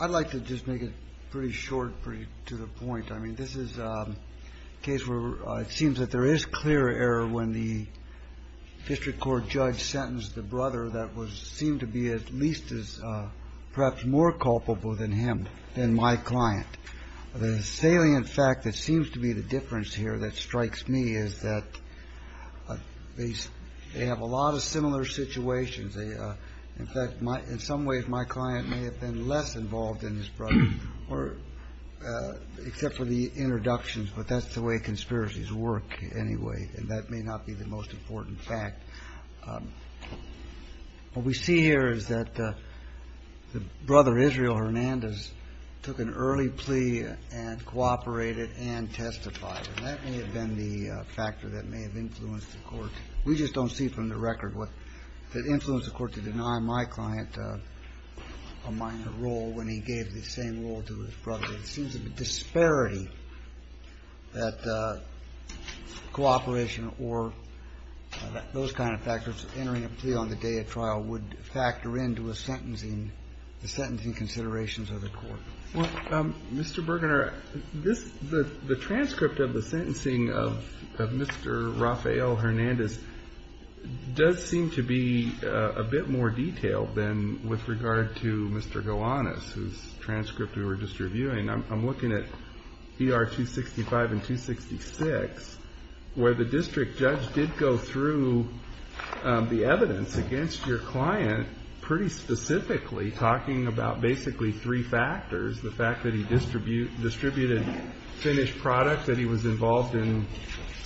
I'd like to just make it pretty short, pretty to the point. I mean, this is a case where it seems that there is clear error when the district court judge sentenced the brother that seemed to be at least as perhaps more culpable than him, than my client. The salient fact that seems to be the difference here that strikes me is that they have a lot of similar situations. In fact, in some ways, my client may have been less involved in his brother, except for the introductions. But that's the way conspiracies work anyway, and that may not be the most important fact. What we see here is that the brother, Israel Hernandez, took an early plea and cooperated and testified. And that may have been the factor that may have influenced the court. We just don't see from the record what influenced the court to deny my client a minor role when he gave the same role to his brother. It seems a disparity that cooperation or those kind of factors entering a plea on the day of trial would factor into a sentencing, the sentencing considerations of the court. Well, Mr. Bergener, this, the transcript of the sentencing of Mr. Rafael Hernandez does seem to be a bit more detailed than with regard to Mr. Gowanus, whose transcript we were just reviewing. I'm looking at ER 265 and 266, where the district judge did go through the evidence against your client pretty specifically, talking about basically three factors, the fact that he distributed finished products, that he was involved in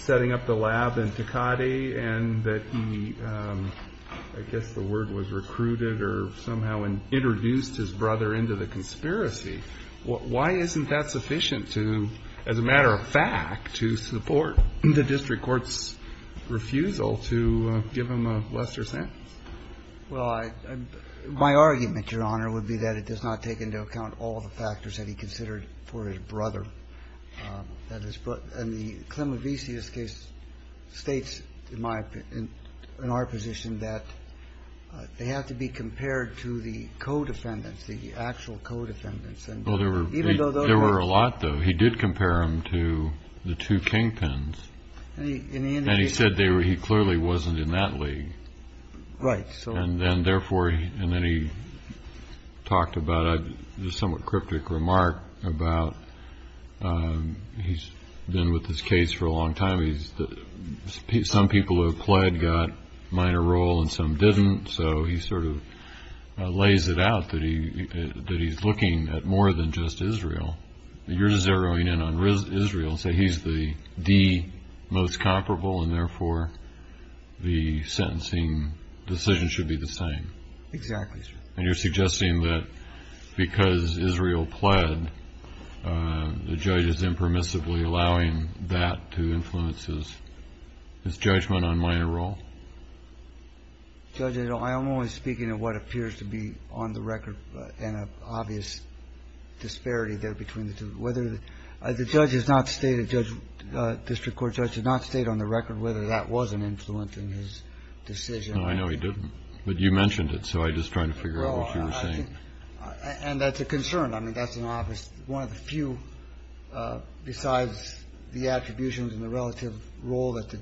setting up the lab in Tecate, and that he, I guess the word was recruited or somehow introduced his brother into the conspiracy. Why isn't that sufficient to, as a matter of fact, to support the district court's refusal to give him a lesser sentence? Well, my argument, Your Honor, would be that it does not take into account all the factors that he considered for his brother. That is, but in the Clemenvisius case states, in my opinion, in our position, that they have to be compared to the co-defendants, the actual co-defendants. Well, there were a lot, though. He did compare them to the two kingpins. And he said he clearly wasn't in that league. Right. And then, therefore, and then he talked about a somewhat cryptic remark about he's been with this case for a long time. Some people who have pled got minor role and some didn't. So he sort of lays it out that he's looking at more than just Israel. You're zeroing in on Israel and say he's the most comparable and, therefore, the sentencing decision should be the same. Exactly. And you're suggesting that because Israel pled, the judge is impermissibly allowing that to influence his judgment on minor role. Judge, I'm only speaking of what appears to be on the record and an obvious disparity there between the two. The judge has not stated, the district court judge has not stated on the record whether that was an influence in his decision. No, I know he didn't. But you mentioned it, so I'm just trying to figure out what you were saying. And that's a concern. I mean, that's an obvious one of the few besides the attributions and the relative role that the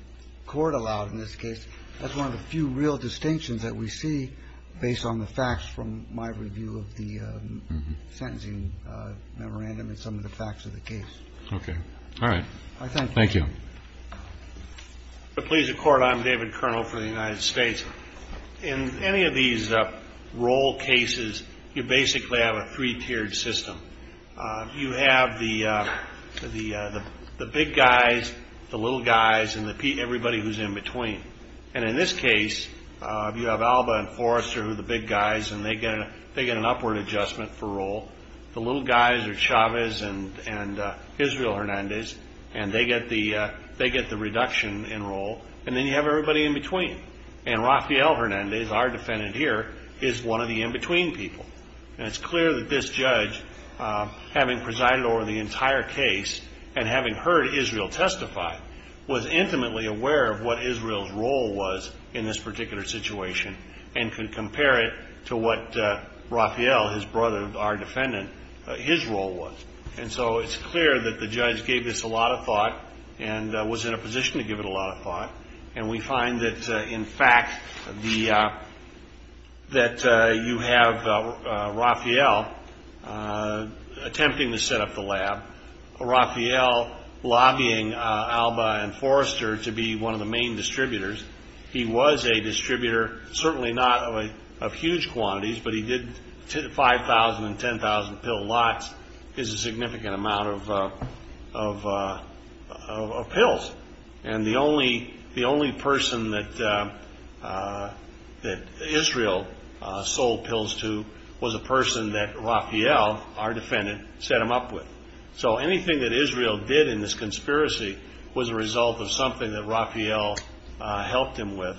court allowed in this case. That's one of the few real distinctions that we see based on the facts from my review of the sentencing memorandum and some of the facts of the case. OK. All right. Thank you. Thank you. Please, the court, I'm David Kernel for the United States. In any of these role cases, you basically have a three-tiered system. You have the big guys, the little guys, and everybody who's in between. And in this case, you have Alba and Forrester, who are the big guys, and they get an upward adjustment for role. The little guys are Chavez and Israel Hernandez, and they get the reduction in role. And then you have everybody in between. And Rafael Hernandez, our defendant here, is one of the in-between people. And it's clear that this judge, having presided over the entire case and having heard Israel testify, was intimately aware of what Israel's role was in this particular situation and could compare it to what Rafael, his brother, our defendant, his role was. And so it's clear that the judge gave this a lot of thought and was in a position to give it a lot of thought. And we find that, in fact, that you have Rafael attempting to set up the lab, Rafael lobbying Alba and Forrester to be one of the main distributors. He was a distributor, certainly not of huge quantities, but he did 5,000 and 10,000 pill lots. It's a significant amount of pills. And the only person that Israel sold pills to was a person that Rafael, our defendant, set him up with. So anything that Israel did in this conspiracy was a result of something that Rafael helped him with.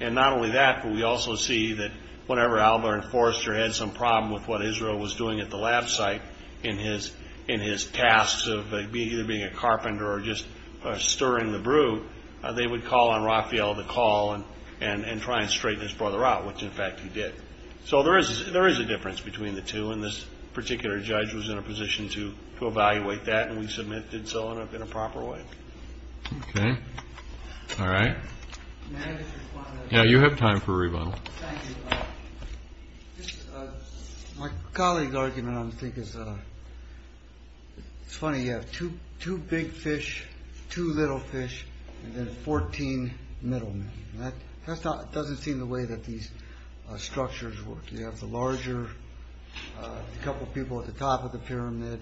And not only that, but we also see that whenever Alba and Forrester had some problem with what Israel was doing at the lab site in his tasks of either being a carpenter or just stirring the brew, they would call on Rafael to call and try and straighten his brother out, which, in fact, he did. So there is a difference between the two, and this particular judge was in a position to evaluate that, and we submit did so in a proper way. Okay. All right. May I just respond to that? Yeah, you have time for a rebuttal. Thank you. My colleague's argument, I think, is funny. You have two big fish, two little fish, and then 14 middlemen. That doesn't seem the way that these structures work. You have the larger couple of people at the top of the pyramid.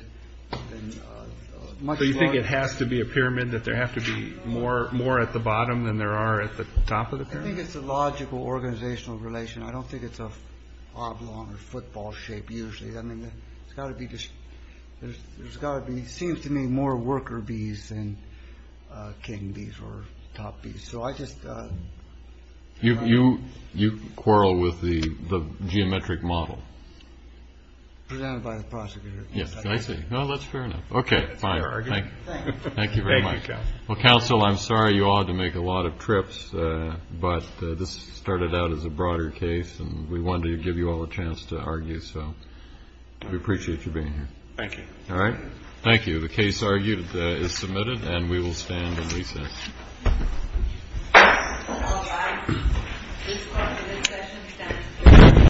So you think it has to be a pyramid, that there have to be more at the bottom than there are at the top of the pyramid? I think it's a logical organizational relation. I don't think it's an oblong or football shape usually. I mean, it's got to be just – there's got to be, it seems to me, more worker bees than king bees or top bees. So I just – You quarrel with the geometric model. Presented by the prosecutor. Yes, I see. Well, that's fair enough. Okay, fine. Thank you very much. Well, counsel, I'm sorry you all had to make a lot of trips, but this started out as a broader case and we wanted to give you all a chance to argue. So we appreciate you being here. Thank you. All right. Thank you. The case argued is submitted and we will stand and recess.